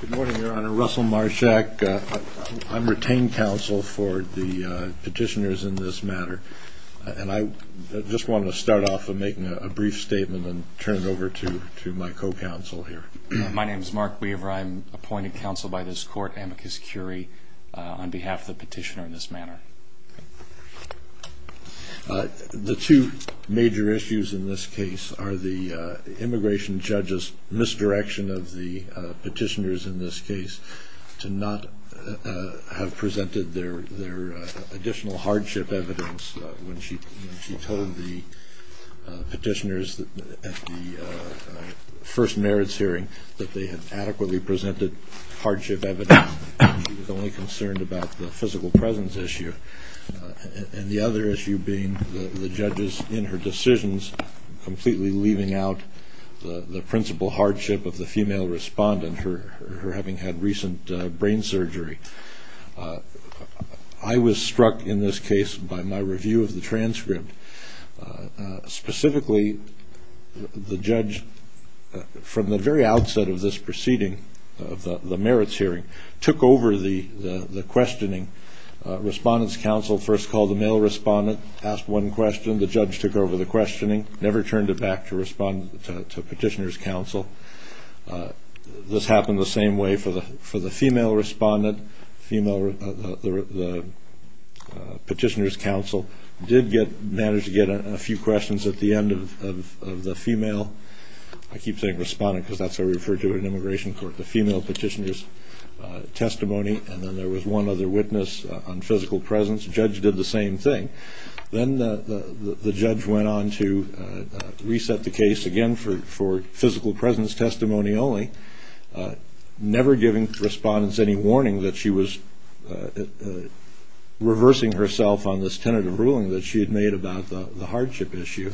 Good morning, Your Honor. Russell Marshak. I'm retained counsel for the petitioners in this matter, and I just want to start off by making a brief statement and turn it over to my co-counsel here. My name is Mark Weaver. I'm appointed counsel by this court, amicus curiae, on behalf of the petitioner in this matter. The two major issues in this case are the immigration judge's misdirection of the petitioners in this case to not have presented their additional hardship evidence when she told the petitioners at the first merits hearing that they had adequately presented hardship evidence. She was only concerned about the physical presence issue, and the other issue being the judge's, in her decisions, completely leaving out the principal hardship of the female respondent, her having had recent brain surgery. I was struck in this case by my review of the transcript. Specifically, the judge, from the very outset of this proceeding, of the merits hearing, took over the questioning. Respondent's counsel first called the male respondent, asked one question. The judge took over the questioning, never turned it back to petitioner's counsel. This happened the same way for the female respondent. The petitioner's counsel did manage to get a few questions at the end of the female, I keep saying respondent because that's how we refer to it in immigration court, the female petitioner's testimony, and then there was one other witness on physical presence. The judge did the same thing. Then the judge went on to reset the case again for physical presence testimony only, never giving respondent's any warning that she was reversing herself on this tentative ruling that she had made about the hardship issue.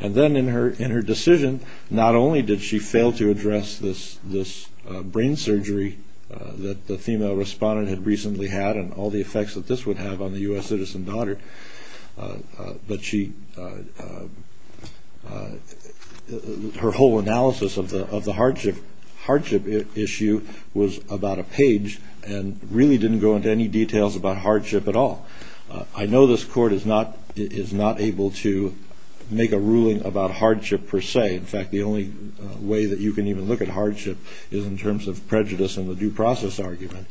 Then in her decision, not only did she fail to address this brain surgery that the female respondent had recently had and all the effects that this would have on the U.S. citizen daughter, but her whole analysis of the hardship issue was about a page and really didn't go into any details about hardship at all. I know this court is not able to make a ruling about hardship per se. In fact, the only way that you can even look at hardship is in terms of prejudice and the due process argument.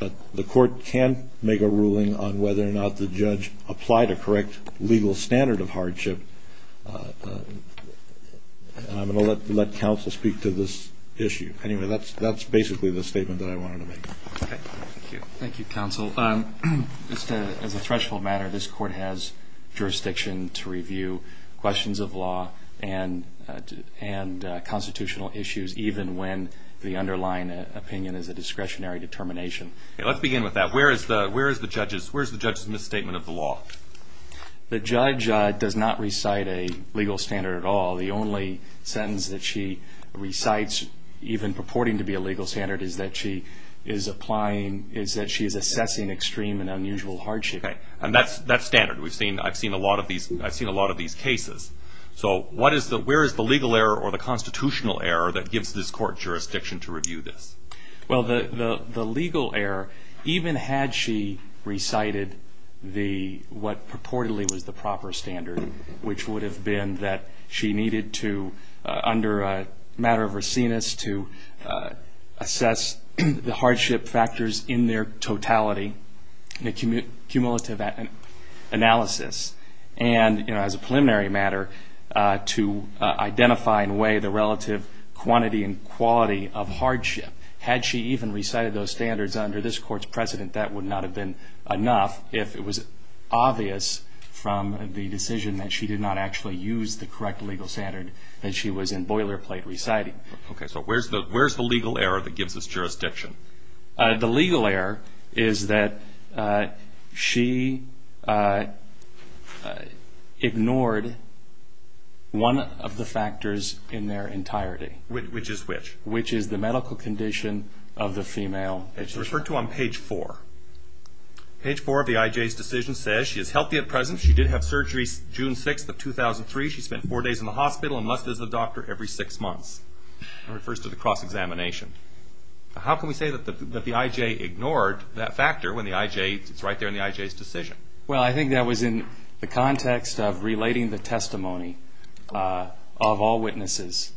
The court can make a ruling on whether or not the judge applied a correct legal standard of hardship. I'm going to let counsel speak to this issue. Anyway, that's basically the statement that I wanted to make. Thank you, counsel. As a threshold matter, this court has jurisdiction to review questions of law and constitutional issues even when the underlying opinion is a discretionary determination. Let's begin with that. Where is the judge's misstatement of the law? The judge does not recite a legal standard at all. The only sentence that she recites, even purporting to be a legal standard, is that she is assessing extreme and unusual hardship. That's standard. I've seen a lot of these cases. Where is the legal error or the constitutional error that gives this court jurisdiction to review this? The legal error, even had she recited what purportedly was the proper standard, which would have been that she needed to, under a matter of raciness, assess the hardship factors in their totality, in a cumulative analysis, and as a preliminary matter, to identify in a way the relative quantity and quality of hardship. Had she even recited those standards under this court's precedent, that would not have been enough if it was obvious from the decision that she did not actually use the correct legal standard that she was in boilerplate reciting. Where is the legal error that gives this jurisdiction? The legal error is that she ignored one of the factors in their entirety. Which is which? Which is the medical condition of the female. It's referred to on page four. Page four of the IJ's decision says, She did have surgery June 6th of 2003. She spent four days in the hospital and must visit the doctor every six months. It refers to the cross-examination. How can we say that the IJ ignored that factor when it's right there in the IJ's decision? Well, I think that was in the context of relating the testimony of all witnesses.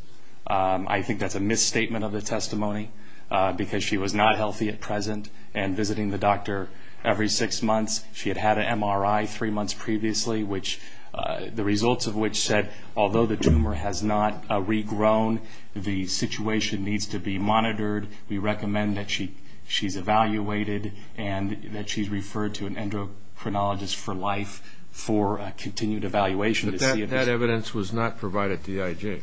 I think that's a misstatement of the testimony because she was not healthy at present and visiting the doctor every six months. She had had an MRI three months previously, which the results of which said, Although the tumor has not regrown, the situation needs to be monitored. We recommend that she's evaluated and that she's referred to an endocrinologist for life for a continued evaluation. But that evidence was not provided to the IJ?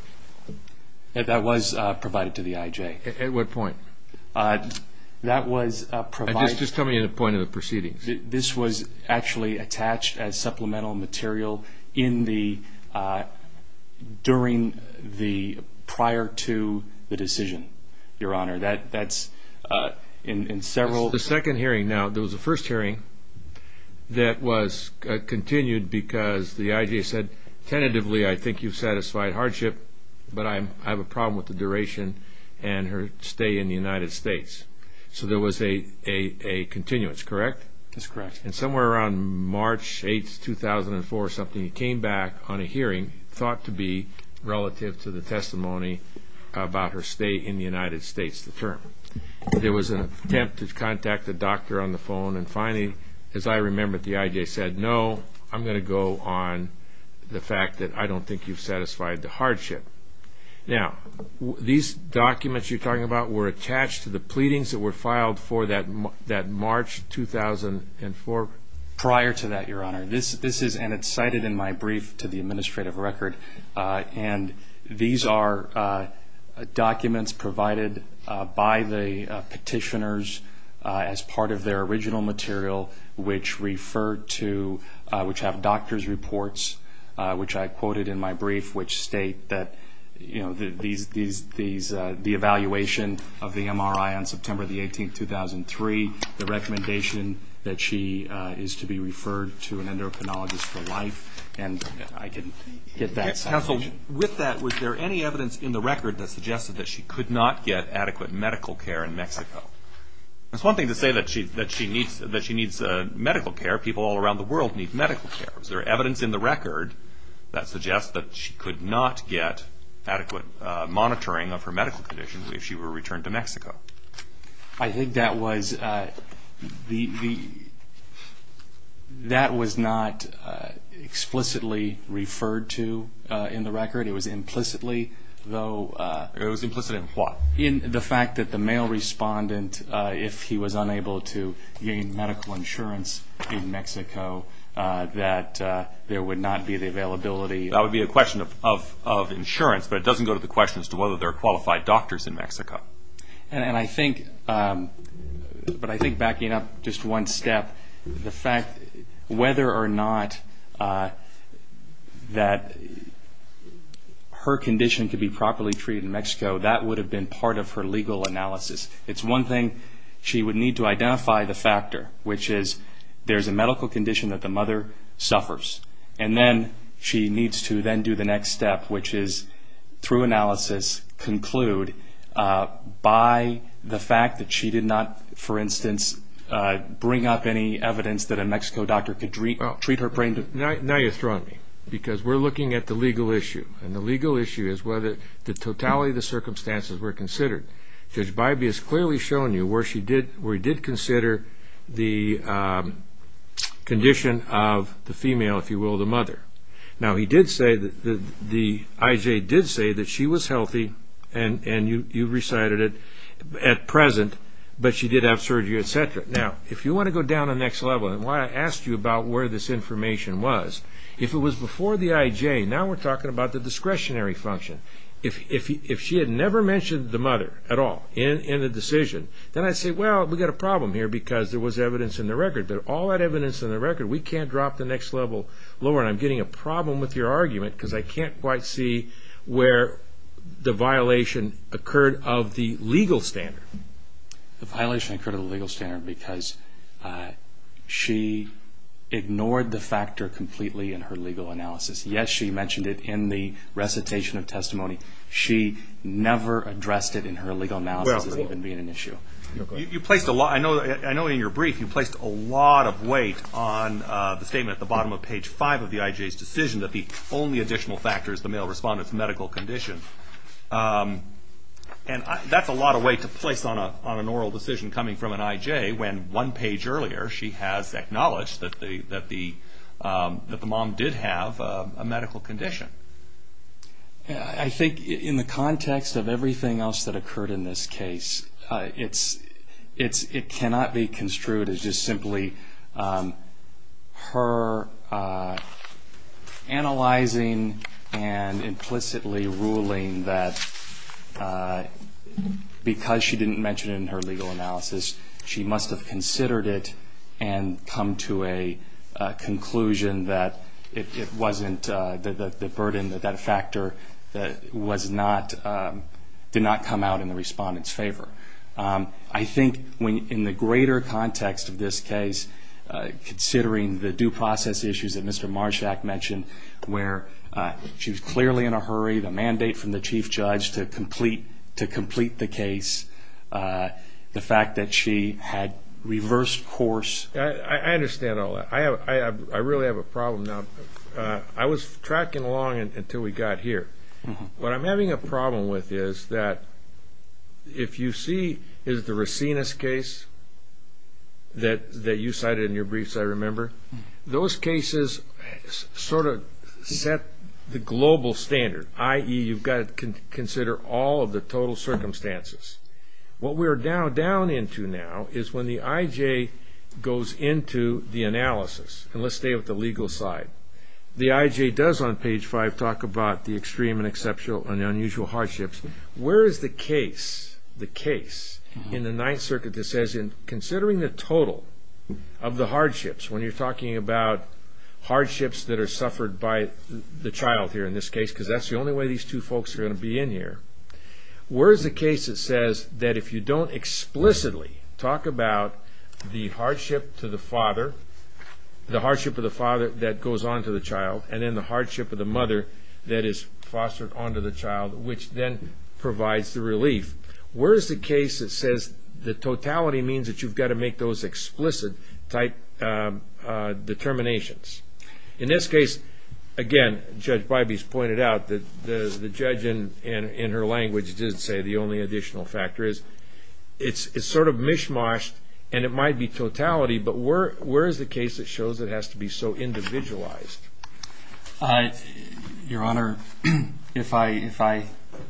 That was provided to the IJ. At what point? That was provided. Just tell me the point of the proceedings. This was actually attached as supplemental material in the, during the, prior to the decision, Your Honor. That's in several. The second hearing now, there was a first hearing that was continued because the IJ said, Tentatively, I think you've satisfied hardship, but I have a problem with the duration and her stay in the United States. So there was a continuance, correct? That's correct. And somewhere around March 8th, 2004 or something, you came back on a hearing thought to be relative to the testimony about her stay in the United States, the term. There was an attempt to contact the doctor on the phone and finally, as I remember it, the IJ said, No, I'm going to go on the fact that I don't think you've satisfied the hardship. Now, these documents you're talking about were attached to the pleadings that were filed for that March 2004? Prior to that, Your Honor, this is, and it's cited in my brief to the administrative record, and these are documents provided by the petitioners as part of their original material, which referred to, which have doctor's reports, which I quoted in my brief, which state that the evaluation of the MRI on September the 18th, 2003, the recommendation that she is to be referred to an endocrinologist for life, and I can get that. Counsel, with that, was there any evidence in the record that suggested that she could not get adequate medical care in Mexico? It's one thing to say that she needs medical care. People all around the world need medical care. Was there evidence in the record that suggests that she could not get adequate monitoring of her medical conditions if she were returned to Mexico? I think that was the, that was not explicitly referred to in the record. It was implicitly, though. It was implicit in what? In the fact that the mail respondent, if he was unable to gain medical insurance in Mexico, that there would not be the availability. That would be a question of insurance, but it doesn't go to the question as to whether there are qualified doctors in Mexico. And I think, but I think backing up just one step, the fact whether or not that her condition could be properly treated in Mexico, that would have been part of her legal analysis. It's one thing she would need to identify the factor, which is there's a medical condition that the mother suffers, and then she needs to then do the next step, which is, through analysis, conclude by the fact that she did not, for instance, bring up any evidence that a Mexico doctor could treat her brain. Now you're throwing me, because we're looking at the legal issue, and the legal issue is whether the totality of the circumstances were considered. Judge Bybee has clearly shown you where she did, where he did consider the condition of the female, if you will, the mother. Now he did say that the IJ did say that she was healthy, and you recited it at present, but she did have surgery, etc. Now, if you want to go down the next level, and why I asked you about where this information was, if it was before the IJ, now we're talking about the discretionary function. If she had never mentioned the mother at all in the decision, then I'd say, well, we've got a problem here because there was evidence in the record, but all that evidence in the record, we can't drop the next level lower, and I'm getting a problem with your argument because I can't quite see where the violation occurred of the legal standard. The violation occurred of the legal standard because she ignored the factor completely in her legal analysis. Yes, she mentioned it in the recitation of testimony. She never addressed it in her legal analysis as even being an issue. I know in your brief you placed a lot of weight on the statement at the bottom of page 5 of the IJ's decision that the only additional factor is the male respondent's medical condition, and that's a lot of weight to place on an oral decision coming from an IJ when one page earlier she has acknowledged that the mom did have a medical condition. I think in the context of everything else that occurred in this case, it cannot be construed as just simply her analyzing and implicitly ruling that because she didn't mention it in her legal analysis, she must have considered it and come to a conclusion that it wasn't the burden, that that factor did not come out in the respondent's favor. I think in the greater context of this case, considering the due process issues that Mr. Marshak mentioned where she was clearly in a hurry, the mandate from the chief judge to complete the case, the fact that she had reversed course. I understand all that. I really have a problem now. I was tracking along until we got here. What I'm having a problem with is that if you see is the Racines case that you cited in your briefs, I remember, those cases sort of set the global standard, i.e., you've got to consider all of the total circumstances. What we're down into now is when the IJ goes into the analysis, and let's stay with the legal side, the IJ does on page 5 talk about the extreme and the unusual hardships. Where is the case in the Ninth Circuit that says in considering the total of the hardships, when you're talking about hardships that are suffered by the child here in this case, because that's the only way these two folks are going to be in here, where is the case that says that if you don't explicitly talk about the hardship to the father, the hardship of the father that goes on to the child, and then the hardship of the mother that is fostered onto the child, which then provides the relief, where is the case that says the totality means that you've got to make those explicit type determinations? In this case, again, Judge Bybee's pointed out that the judge, in her language, did say the only additional factor is it's sort of mish-moshed, and it might be totality, but where is the case that shows it has to be so individualized? Your Honor, if I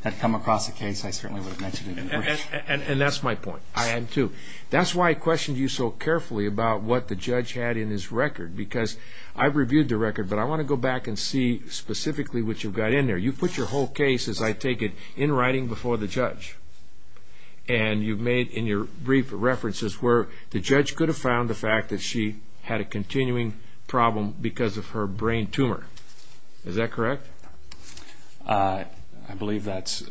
had come across a case, I certainly would have mentioned it. And that's my point. I am, too. That's why I questioned you so carefully about what the judge had in his record, because I've reviewed the record, but I want to go back and see specifically what you've got in there. You've put your whole case, as I take it, in writing before the judge, and you've made in your brief references where the judge could have found the fact that she had a continuing problem because of her brain tumor. Is that correct? I believe that's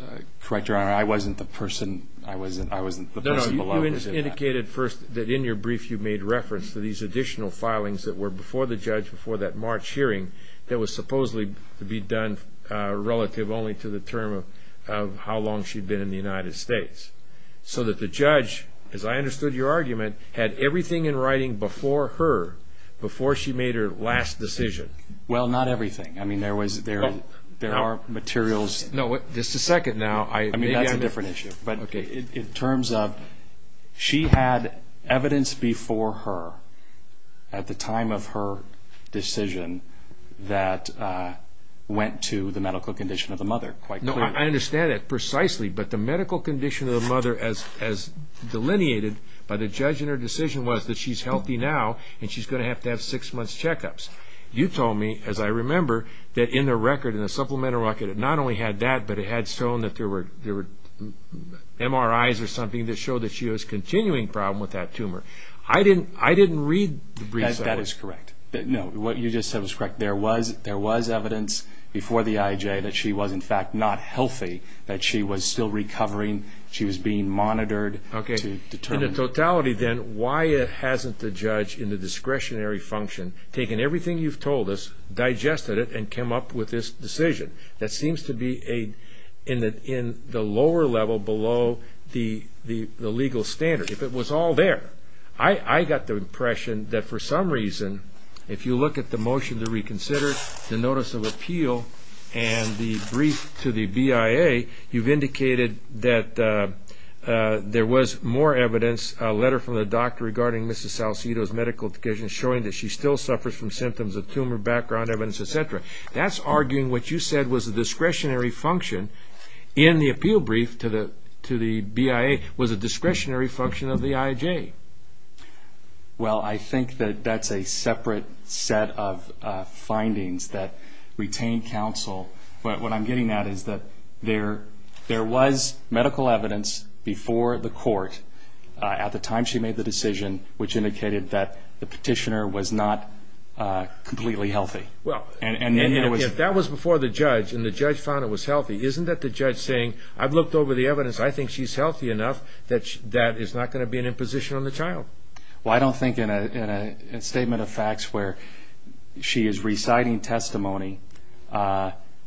correct, Your Honor. I wasn't the person below. No, no, you indicated first that in your brief you made reference to these additional filings that were before the judge, before that March hearing, that was supposedly to be done relative only to the term of how long she'd been in the United States, so that the judge, as I understood your argument, had everything in writing before her, before she made her last decision. Well, not everything. I mean, there are materials. No, just a second now. I mean, that's a different issue. Okay. In terms of she had evidence before her, at the time of her decision, that went to the medical condition of the mother, quite clearly. No, I understand that precisely, but the medical condition of the mother, as delineated by the judge in her decision, was that she's healthy now, and she's going to have to have six months checkups. You told me, as I remember, that in the record, in the supplemental record, it not only had that, but it had shown that there were MRIs or something that showed that she was continuing problem with that tumor. I didn't read the brief. That is correct. No, what you just said was correct. There was evidence before the IJ that she was, in fact, not healthy, that she was still recovering, she was being monitored to determine that. Okay. In totality, then, why hasn't the judge, in the discretionary function, taken everything you've told us, digested it, and came up with this decision that seems to be in the lower level, below the legal standard? If it was all there, I got the impression that, for some reason, if you look at the motion to reconsider, the notice of appeal, and the brief to the BIA, you've indicated that there was more evidence, a letter from the doctor regarding Mrs. Salcedo's medical condition, showing that she still suffers from symptoms of tumor, background evidence, etc. That's arguing what you said was the discretionary function, in the appeal brief to the BIA, was a discretionary function of the IJ. Well, I think that that's a separate set of findings that retain counsel. What I'm getting at is that there was medical evidence before the court, at the time she made the decision, which indicated that the petitioner was not completely healthy. If that was before the judge, and the judge found it was healthy, isn't that the judge saying, I've looked over the evidence, I think she's healthy enough, that that is not going to be an imposition on the child? I don't think in a statement of facts where she is reciting testimony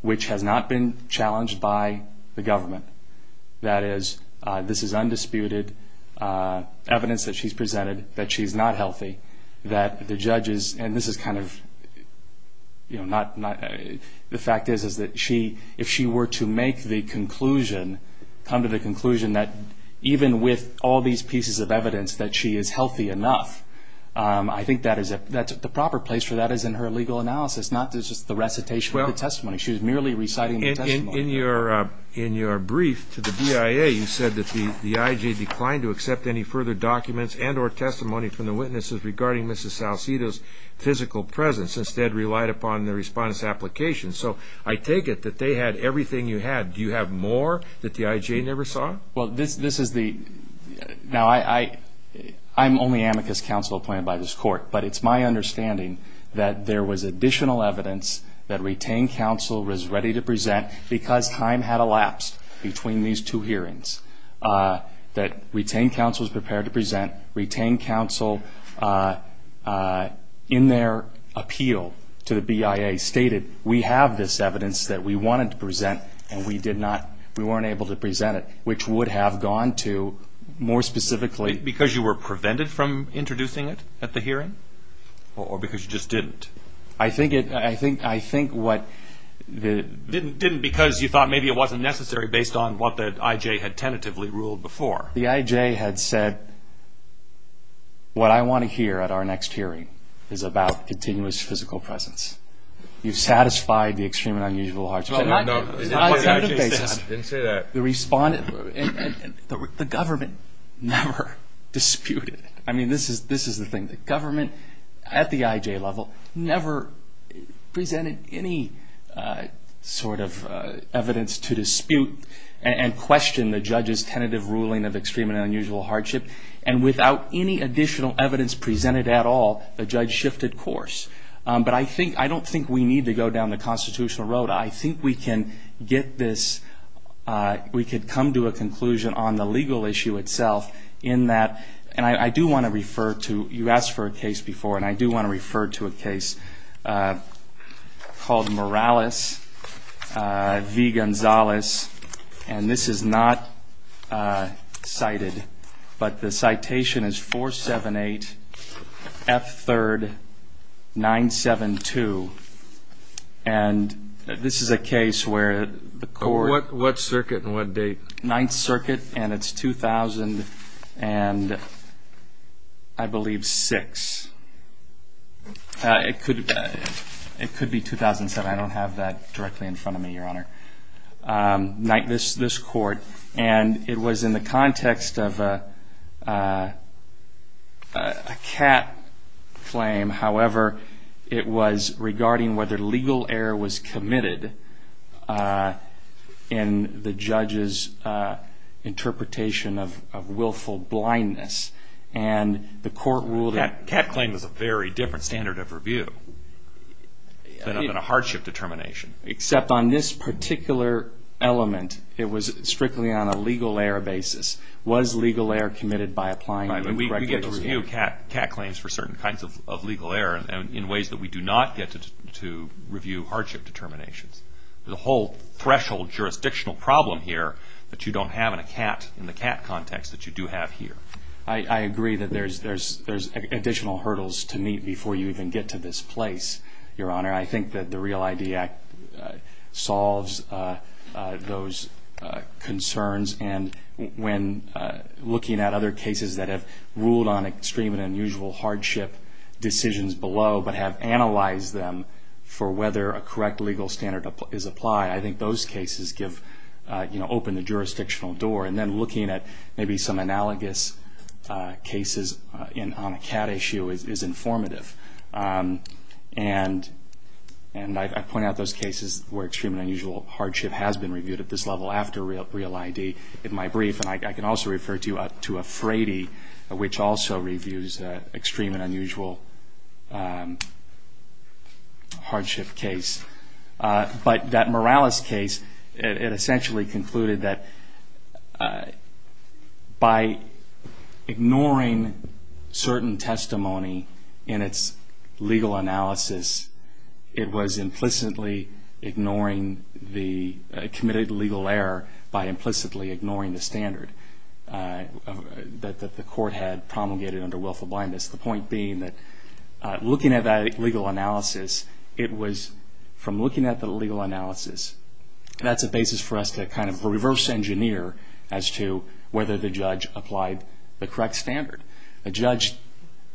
which has not been challenged by the government, that is, this is undisputed evidence that she's presented, that she's not healthy, that the judge is, and this is kind of, the fact is that if she were to make the conclusion, come to the conclusion that even with all these pieces of evidence, that she is healthy enough, I think the proper place for that is in her legal analysis, not just the recitation of the testimony. She was merely reciting the testimony. In your brief to the BIA, you said that the IJ declined to accept any further documents and or testimony from the witnesses regarding Mrs. Salcedo's physical presence, since they had relied upon the respondent's application. So I take it that they had everything you had. Do you have more that the IJ never saw? Well, this is the, now I'm only amicus counsel appointed by this court, but it's my understanding that there was additional evidence that retained counsel was ready to present because time had elapsed between these two hearings, that retained counsel was prepared to present. Retained counsel, in their appeal to the BIA, stated we have this evidence that we wanted to present and we did not, we weren't able to present it, which would have gone to more specifically. Because you were prevented from introducing it at the hearing? Or because you just didn't? I think it, I think what the... Didn't because you thought maybe it wasn't necessary based on what the IJ had tentatively ruled before. The IJ had said what I want to hear at our next hearing is about continuous physical presence. You've satisfied the extreme and unusual hearts of... No, no, no. On a tentative basis... I didn't say that. The respondent, the government never disputed it. I mean, this is the thing. The government, at the IJ level, never presented any sort of evidence to dispute and question the judge's tentative ruling of extreme and unusual hardship. And without any additional evidence presented at all, the judge shifted course. But I don't think we need to go down the constitutional road. I think we can get this, we could come to a conclusion on the legal issue itself in that, and I do want to refer to, you asked for a case before, and I do want to refer to a case called Morales v. Gonzalez. And this is not cited, but the citation is 478 F. 3rd, 972. And this is a case where the court... What circuit and what date? 9th Circuit, and it's 2000 and I believe 6. It could be 2007. I don't have that directly in front of me, Your Honor. This court, and it was in the context of a cat claim. However, it was regarding whether legal error was committed in the judge's interpretation of willful blindness. And the court ruled that... Cat claim is a very different standard of review than a hardship determination. Except on this particular element, it was strictly on a legal error basis. Was legal error committed by applying... We get a review of cat claims for certain kinds of legal error in ways that we do not get to review hardship determinations. The whole threshold jurisdictional problem here that you don't have in the cat context that you do have here. I agree that there's additional hurdles to meet before you even get to this place, Your Honor. I think that the REAL ID Act solves those concerns. And when looking at other cases that have ruled on extreme and unusual hardship decisions below, but have analyzed them for whether a correct legal standard is applied, I think those cases open the jurisdictional door. And then looking at maybe some analogous cases on a cat issue is informative. And I point out those cases where extreme and unusual hardship has been reviewed at this level after REAL ID. In my brief, and I can also refer to a Frady, which also reviews extreme and unusual hardship case. But that Morales case, it essentially concluded that by ignoring certain testimony in its legal analysis, it was implicitly ignoring the committed legal error by implicitly ignoring the standard that the court had promulgated under willful blindness. The point being that looking at that legal analysis, it was from looking at the legal analysis, that's a basis for us to kind of reverse engineer as to whether the judge applied the correct standard. The judge,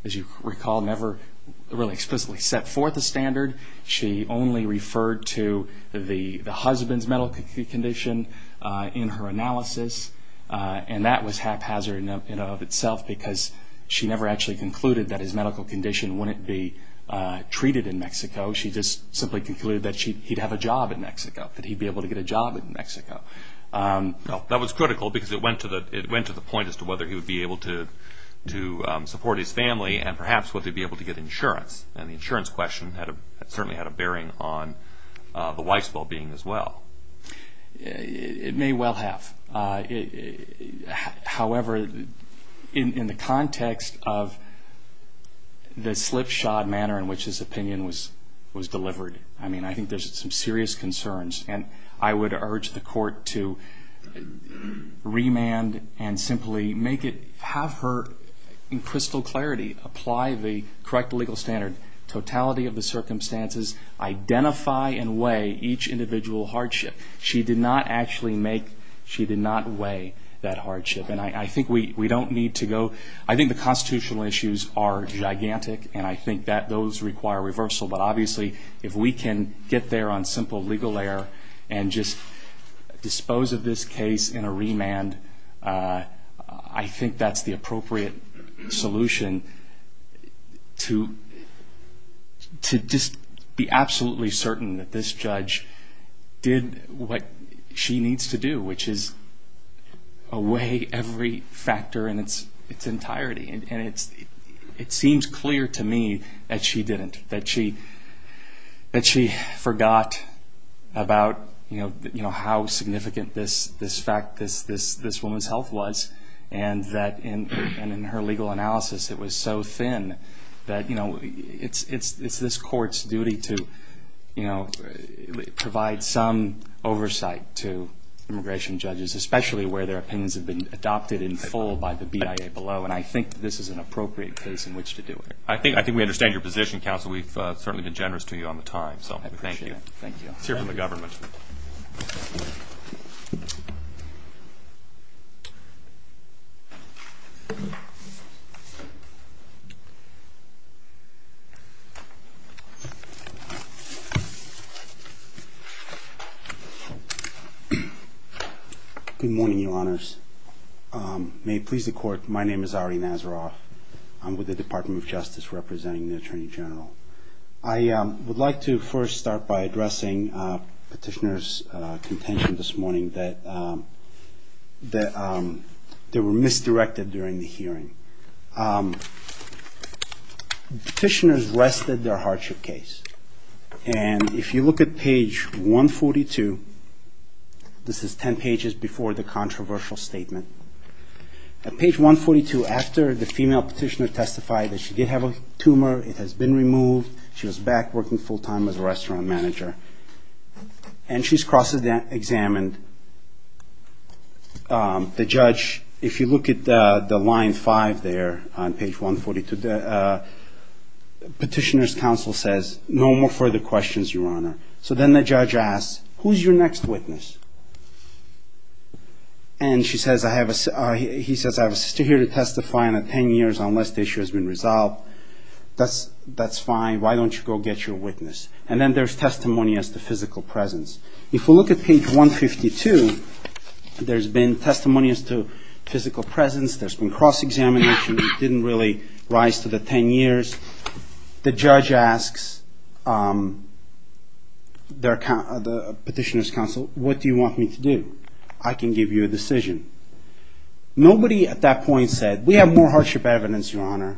as you recall, never really explicitly set forth a standard. She only referred to the husband's medical condition in her analysis. And that was haphazard in and of itself because she never actually concluded that his medical condition wouldn't be treated in Mexico. She just simply concluded that he'd have a job in Mexico, that he'd be able to get a job in Mexico. That was critical because it went to the point as to whether he would be able to support his family and perhaps whether he'd be able to get insurance. And the insurance question certainly had a bearing on the wife's well-being as well. It may well have. However, in the context of the slipshod manner in which this opinion was delivered, I mean, I think there's some serious concerns. And I would urge the court to remand and simply have her, in crystal clarity, apply the correct legal standard, totality of the circumstances, identify and weigh each individual hardship. She did not actually make... She did not weigh that hardship. And I think we don't need to go... I think the constitutional issues are gigantic, and I think that those require reversal. But obviously, if we can get there on simple legal error and just dispose of this case in a remand, I think that's the appropriate solution to just be absolutely certain that this judge did what she needs to do, which is weigh every factor in its entirety. And it seems clear to me that she didn't, that she forgot about how significant this fact, this woman's health was, and that in her legal analysis it was so thin that it's this court's duty to provide some oversight to immigration judges, especially where their opinions have been adopted in full by the BIA below. And I think this is an appropriate case in which to do it. I think we understand your position, counsel. We've certainly been generous to you on the time. Thank you. Let's hear from the government. Good morning, Your Honors. May it please the Court, my name is Ari Nazaroff. I'm with the Department of Justice representing the Attorney General. I would like to first start by addressing is not the only institution in the United States that were misdirected during the hearing. Petitioners rested their hardship case. And if you look at page 142, this is 10 pages before the controversial statement. At page 142, after the female petitioner testified that she did have a tumor, it has been removed, she was back working full-time as a restaurant manager, and she's cross-examined. The judge, if you look at the line 5 there on page 142, the petitioner's counsel says, no more further questions, Your Honor. So then the judge asks, who's your next witness? And she says, he says, I have a sister here to testify on a 10 years unless the issue has been resolved. That's fine, why don't you go get your witness? And then there's testimony as to physical presence. If we look at page 152, there's been testimony as to physical presence, there's been cross-examination that didn't really rise to the 10 years. The judge asks the petitioner's counsel, what do you want me to do? I can give you a decision. Nobody at that point said, we have more hardship evidence, Your Honor.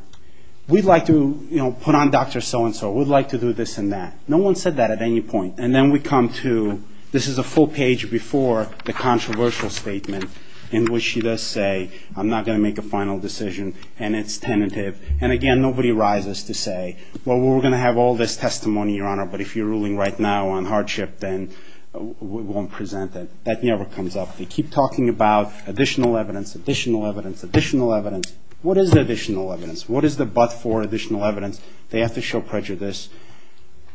We'd like to put on Dr. So-and-so. We'd like to do this and that. No one said that at any point. And then we come to, this is a full page before the controversial statement in which she does say, I'm not going to make a final decision, and it's tentative. And again, nobody rises to say, well, we're going to have all this testimony, Your Honor, but if you're ruling right now on hardship, then we won't present it. That never comes up. They keep talking about additional evidence, additional evidence, additional evidence. What is the additional evidence? What is the but for additional evidence? They have to show prejudice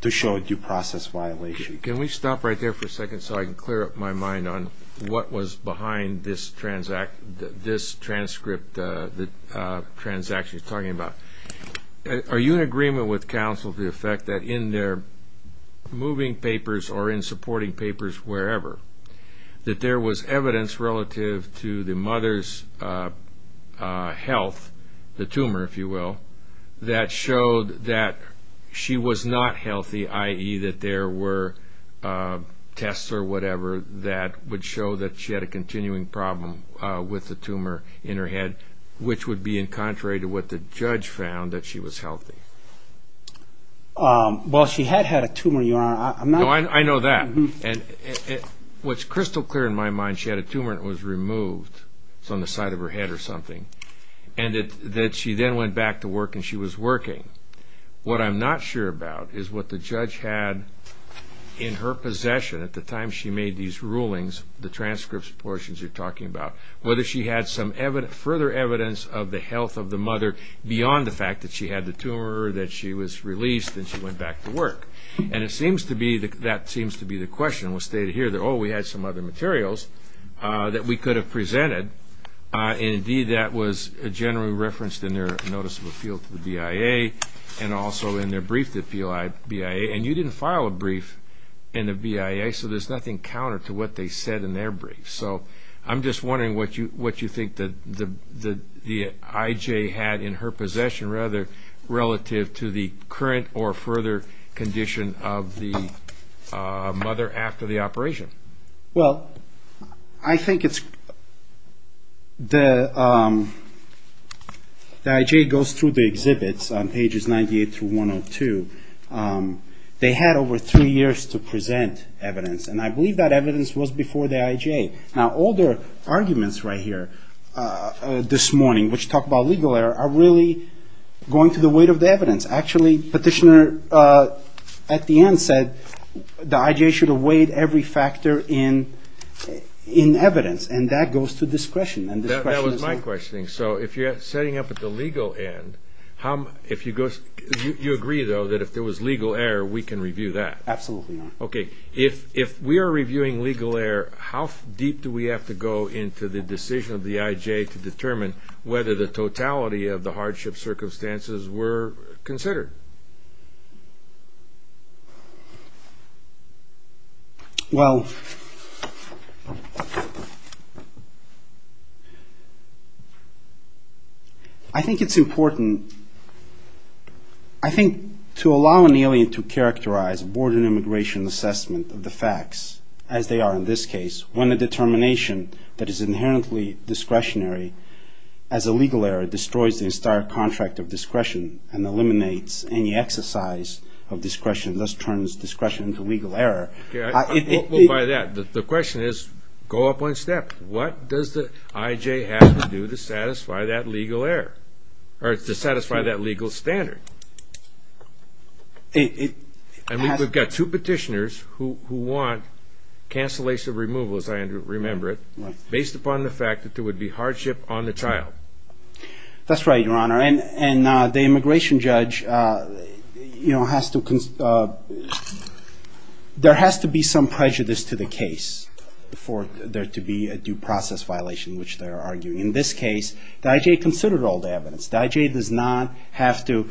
to show a due process violation. Can we stop right there for a second so I can clear up my mind on what was behind this transaction you're talking about? Are you in agreement with counsel to the effect that in their moving papers or in supporting papers wherever, that there was evidence relative to the mother's health, the tumor, if you will, that showed that she was not healthy, i.e. that there were tests or whatever that would show that she had a continuing problem with the tumor in her head, which would be in contrary to what the judge found, that she was healthy. Well, she had had a tumor, Your Honor. No, I know that. What's crystal clear in my mind, she had a tumor and it was removed. It was on the side of her head or something. And that she then went back to work and she was working. What I'm not sure about is what the judge had in her possession at the time she made these rulings, the transcripts portions you're talking about, whether she had some further evidence of the health of the mother beyond the fact that she had the tumor or that she was released and she went back to work. And that seems to be the question. It was stated here that, oh, we had some other materials that we could have presented. And, indeed, that was generally referenced in their notice of appeal to the BIA and also in their brief to the BIA. And you didn't file a brief in the BIA, so there's nothing counter to what they said in their brief. So I'm just wondering what you think the IJ had in her possession relative to the current or further condition of the mother after the operation. Well, I think it's the IJ goes through the exhibits on pages 98 through 102. They had over three years to present evidence. And I believe that evidence was before the IJ. Now, all their arguments right here this morning, which talk about legal error, are really going to the weight of the evidence. Actually, Petitioner, at the end, said the IJ should have weighed every factor in evidence. And that goes to discretion. That was my question. So if you're setting up at the legal end, you agree, though, that if there was legal error, we can review that? Absolutely. Okay. If we are reviewing legal error, how deep do we have to go into the decision of the IJ to determine whether the totality of the hardship circumstances were considered? Well, I think it's important. I think to allow an alien to characterize border immigration assessment of the facts, as they are in this case, when a determination that is inherently discretionary, as a legal error, destroys the entire contract of discretion and eliminates any exercise of discretion, thus turns discretion into legal error. Well, by that, the question is, go up one step. What does the IJ have to do to satisfy that legal error, or to satisfy that legal standard? And we've got two petitioners who want cancellation of removal, as I remember it, based upon the fact that there would be hardship on the trial. That's right, Your Honor. And the immigration judge has to consider there has to be some prejudice to the case for there to be a due process violation, which they are arguing. In this case, the IJ considered all the evidence. The IJ does not have to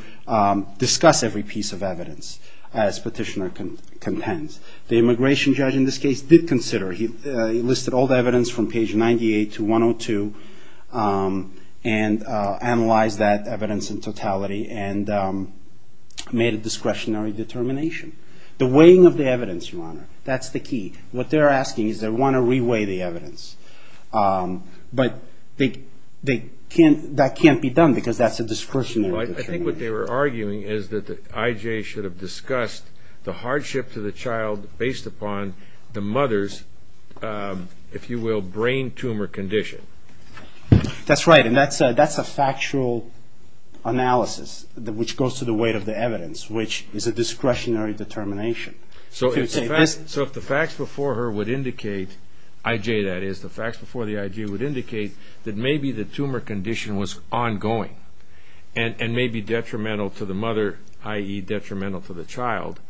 discuss every piece of evidence, as petitioner contends. The immigration judge, in this case, did consider. He listed all the evidence from page 98 to 102 and analyzed that evidence in totality and made a discretionary determination. The weighing of the evidence, Your Honor, that's the key. What they're asking is they want to re-weigh the evidence. But that can't be done because that's a discretionary determination. I think what they were arguing is that the IJ should have discussed the hardship to the child based upon the mother's, if you will, brain tumor condition. That's right, and that's a factual analysis, which goes to the weight of the evidence, which is a discretionary determination. So if the facts before her would indicate, IJ that is, the facts before the IJ would indicate that maybe the tumor condition was ongoing and may be detrimental to the mother, i.e. detrimental to the child,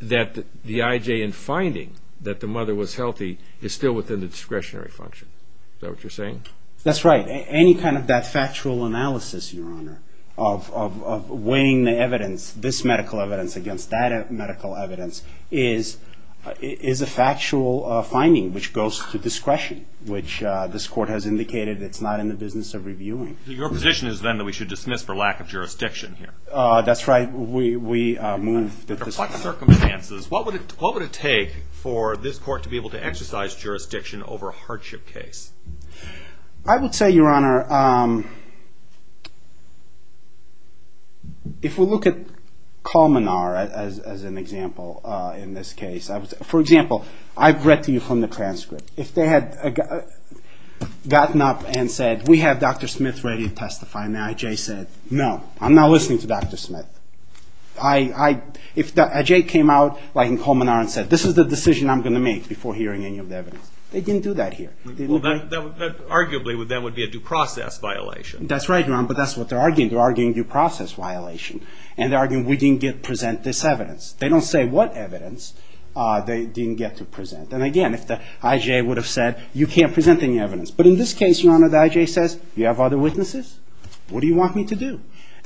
that the IJ in finding that the mother was healthy is still within the discretionary function. Is that what you're saying? That's right. Any kind of that factual analysis, Your Honor, of weighing the evidence, this medical evidence against that medical evidence, is a factual finding, which goes to discretion, which this court has indicated it's not in the business of reviewing. Your position is then that we should dismiss for lack of jurisdiction here. That's right. We move that this court... Under what circumstances, what would it take for this court I would say, Your Honor, if we look at Colmenar as an example in this case, for example, I've read to you from the transcript. If they had gotten up and said, we have Dr. Smith ready to testify, and the IJ said, no, I'm not listening to Dr. Smith. If the IJ came out in Colmenar and said, this is the decision I'm going to make before hearing any of the evidence, they didn't do that here. Arguably, that would be a due process violation. That's right, Your Honor, but that's what they're arguing. They're arguing due process violation. And they're arguing we didn't present this evidence. They don't say what evidence they didn't get to present. And again, if the IJ would have said, you can't present any evidence. But in this case, Your Honor, the IJ says, you have other witnesses? What do you want me to do?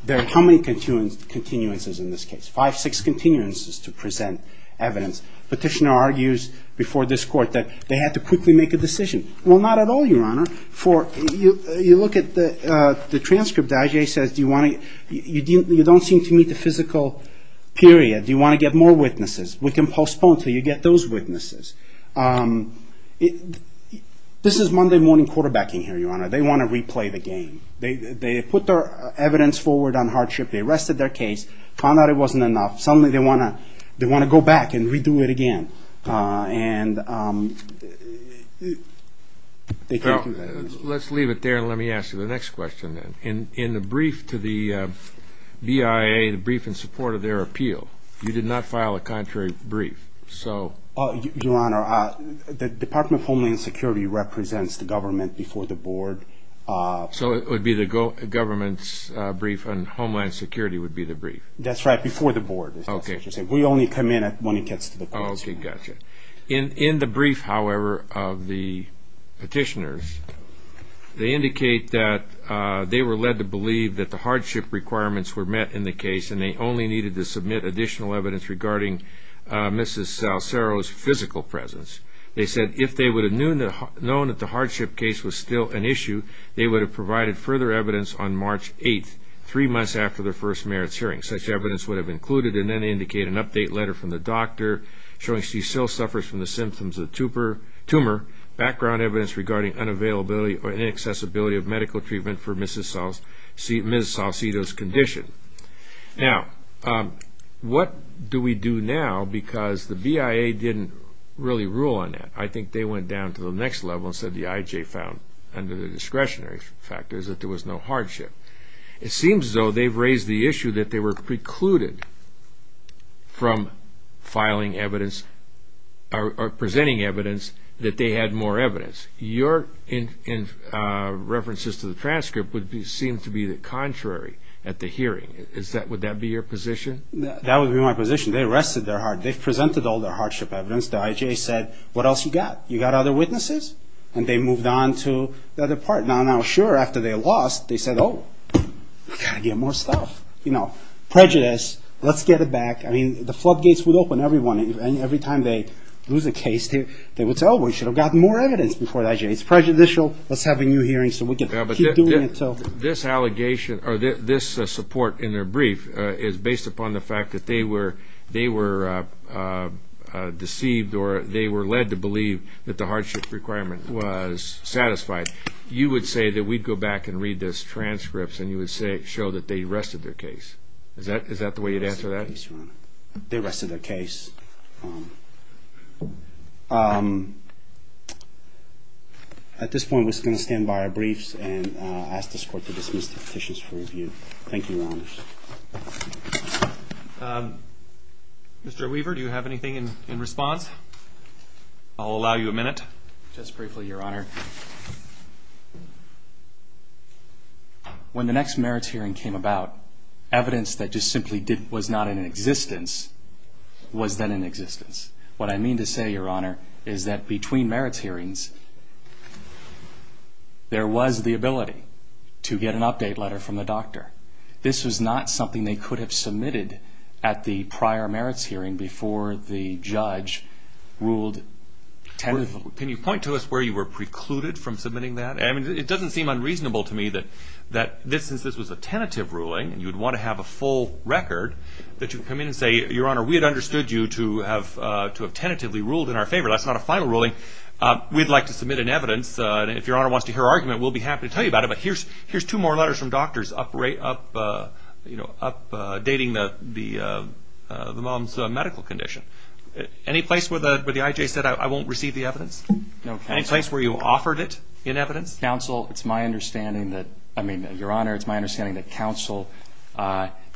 There are how many continuances in this case? Five, six continuances to present evidence. Petitioner argues before this court that they had to quickly make a decision. Well, not at all, Your Honor. You look at the transcript. The IJ says, you don't seem to meet the physical period. Do you want to get more witnesses? We can postpone until you get those witnesses. This is Monday morning quarterbacking here, Your Honor. They want to replay the game. They put their evidence forward on hardship. They arrested their case, found out it wasn't enough. Suddenly, they want to go back and redo it again. Let's leave it there, and let me ask you the next question then. In the brief to the BIA, the brief in support of their appeal, you did not file a contrary brief. Your Honor, the Department of Homeland Security represents the government before the board. So it would be the government's brief, and Homeland Security would be the brief? That's right, before the board. We only come in when it gets to the courts. Okay, gotcha. In the brief, however, of the petitioners, they indicate that they were led to believe that the hardship requirements were met in the case and they only needed to submit additional evidence regarding Mrs. Salcero's physical presence. They said if they would have known that the hardship case was still an issue, they would have provided further evidence on March 8th, three months after the first merits hearing. Such evidence would have included and then indicate an update letter from the doctor showing she still suffers from the symptoms of tumor, background evidence regarding unavailability or inaccessibility of medical treatment for Mrs. Salcero's condition. Now, what do we do now because the BIA didn't really rule on that. I think they went down to the next level and said the IJ found, under the discretionary factors, that there was no hardship. It seems, though, they've raised the issue that they were precluded from filing evidence or presenting evidence that they had more evidence. Your references to the transcript would seem to be the contrary at the hearing. Would that be your position? That would be my position. They arrested their hardship. They presented all their hardship evidence. The IJ said, what else you got? You got other witnesses? And they moved on to the other part. Now, sure, after they lost, they said, oh, we've got to get more stuff. Prejudice. Let's get it back. I mean, the floodgates would open. Every time they lose a case, they would say, oh, we should have gotten more evidence before the IJ. It's prejudicial. Let's have a new hearing so we can keep doing it. This allegation or this support in their brief is based upon the fact that they were deceived or they were led to believe that the hardship requirement was satisfied. You would say that we'd go back and read those transcripts and you would show that they arrested their case. Is that the way you'd answer that? They arrested their case. At this point, we're just going to stand by our briefs and ask this court to dismiss the petitions for review. Thank you, Your Honors. Mr. Weaver, do you have anything in response? I'll allow you a minute. Just briefly, Your Honor. When the next merits hearing came about, evidence that just simply was not in existence was then in existence. What I mean to say, Your Honor, is that between merits hearings, there was the ability to get an update letter from the doctor. This was not something they could have submitted at the prior merits hearing before the judge ruled tentatively. Can you point to us where you were precluded from submitting that? It doesn't seem unreasonable to me that since this was a tentative ruling and you'd want to have a full record, that you come in and say, Your Honor, we had understood you to have tentatively ruled in our favor. That's not a final ruling. We'd like to submit an evidence. If Your Honor wants to hear our argument, we'll be happy to tell you about it. But here's two more letters from doctors updating the mom's medical condition. Any place where the IJ said, I won't receive the evidence? Any place where you offered it in evidence? Counsel, it's my understanding that, I mean, Your Honor, it's my understanding that counsel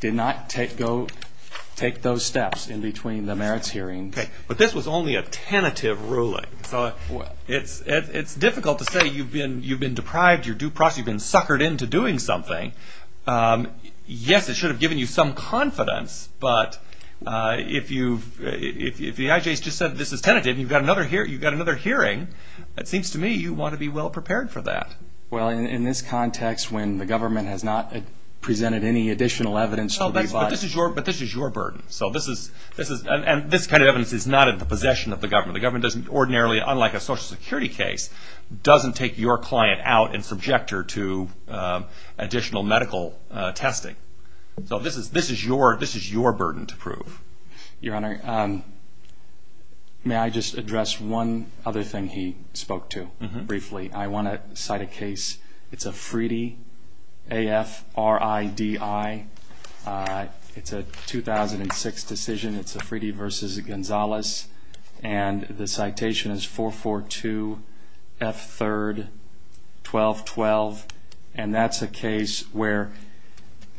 did not take those steps in between the merits hearings. But this was only a tentative ruling. It's difficult to say you've been deprived, you've been suckered into doing something. Yes, it should have given you some confidence, but if the IJ has just said this is tentative and you've got another hearing, it seems to me you want to be well-prepared for that. Well, in this context when the government has not presented any additional evidence. But this is your burden. And this kind of evidence is not in the possession of the government. The government doesn't ordinarily, unlike a Social Security case, doesn't take your client out and subject her to additional medical testing. So this is your burden to prove. Your Honor, may I just address one other thing he spoke to briefly? I want to cite a case. It's a Fridi, A-F-R-I-D-I. It's a 2006 decision. It's a Fridi v. Gonzalez. And the citation is 442 F. 3rd, 1212. And that's a case where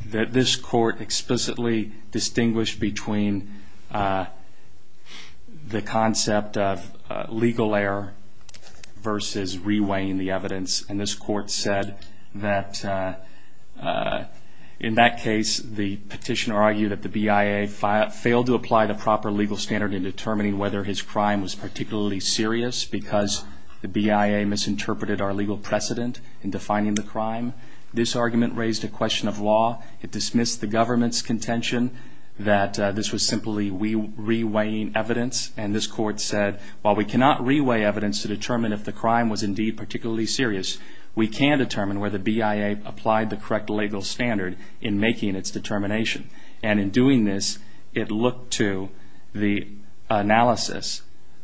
this court explicitly distinguished between the concept of legal error versus reweighing the evidence. And this court said that in that case the petitioner argued that the BIA failed to apply the proper legal standard in determining whether his crime was particularly serious because the BIA misinterpreted our legal precedent in defining the crime. This argument raised a question of law. It dismissed the government's contention that this was simply reweighing evidence. And this court said, while we cannot reweigh evidence to determine if the crime was indeed particularly serious, we can determine whether BIA applied the correct legal standard in making its determination. And in doing this, it looked to the analysis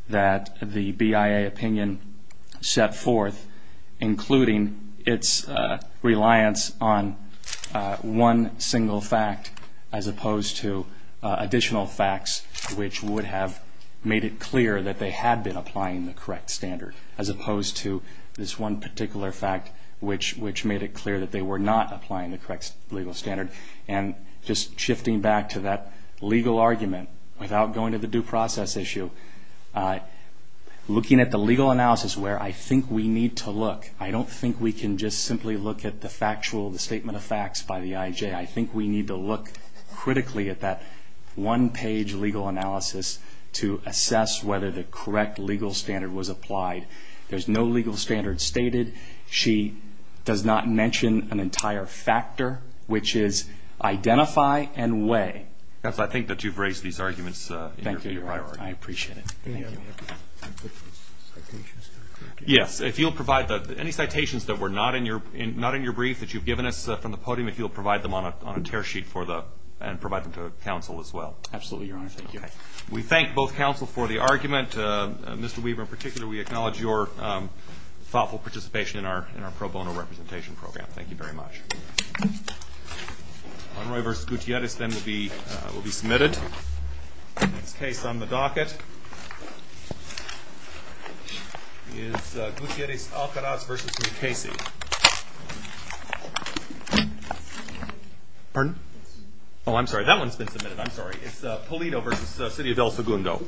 that the BIA opinion set forth, including its reliance on one single fact as opposed to additional facts, which would have made it clear that they had been applying the correct standard, as opposed to this one particular fact, which made it clear that they were not applying the correct legal standard. And just shifting back to that legal argument, without going to the due process issue, looking at the legal analysis where I think we need to look, I don't think we can just simply look at the factual, the statement of facts by the IJ. I think we need to look critically at that one-page legal analysis to assess whether the correct legal standard was applied. There's no legal standard stated. She does not mention an entire factor, which is identify and weigh. That's why I think that you've raised these arguments in your priorities. Thank you, Your Honor. I appreciate it. Thank you. Yes. If you'll provide any citations that were not in your brief that you've given us from the podium, if you'll provide them on a tear sheet and provide them to counsel as well. Absolutely, Your Honor. Thank you. We thank both counsel for the argument. Mr. Weber in particular, we acknowledge your thoughtful participation in our pro bono representation program. Thank you very much. Monroy v. Gutierrez then will be submitted. Next case on the docket is Gutierrez-Alcaraz v. Mukasey. Pardon? Oh, I'm sorry. That one's been submitted. I'm sorry. It's Polito v. City of El Segundo.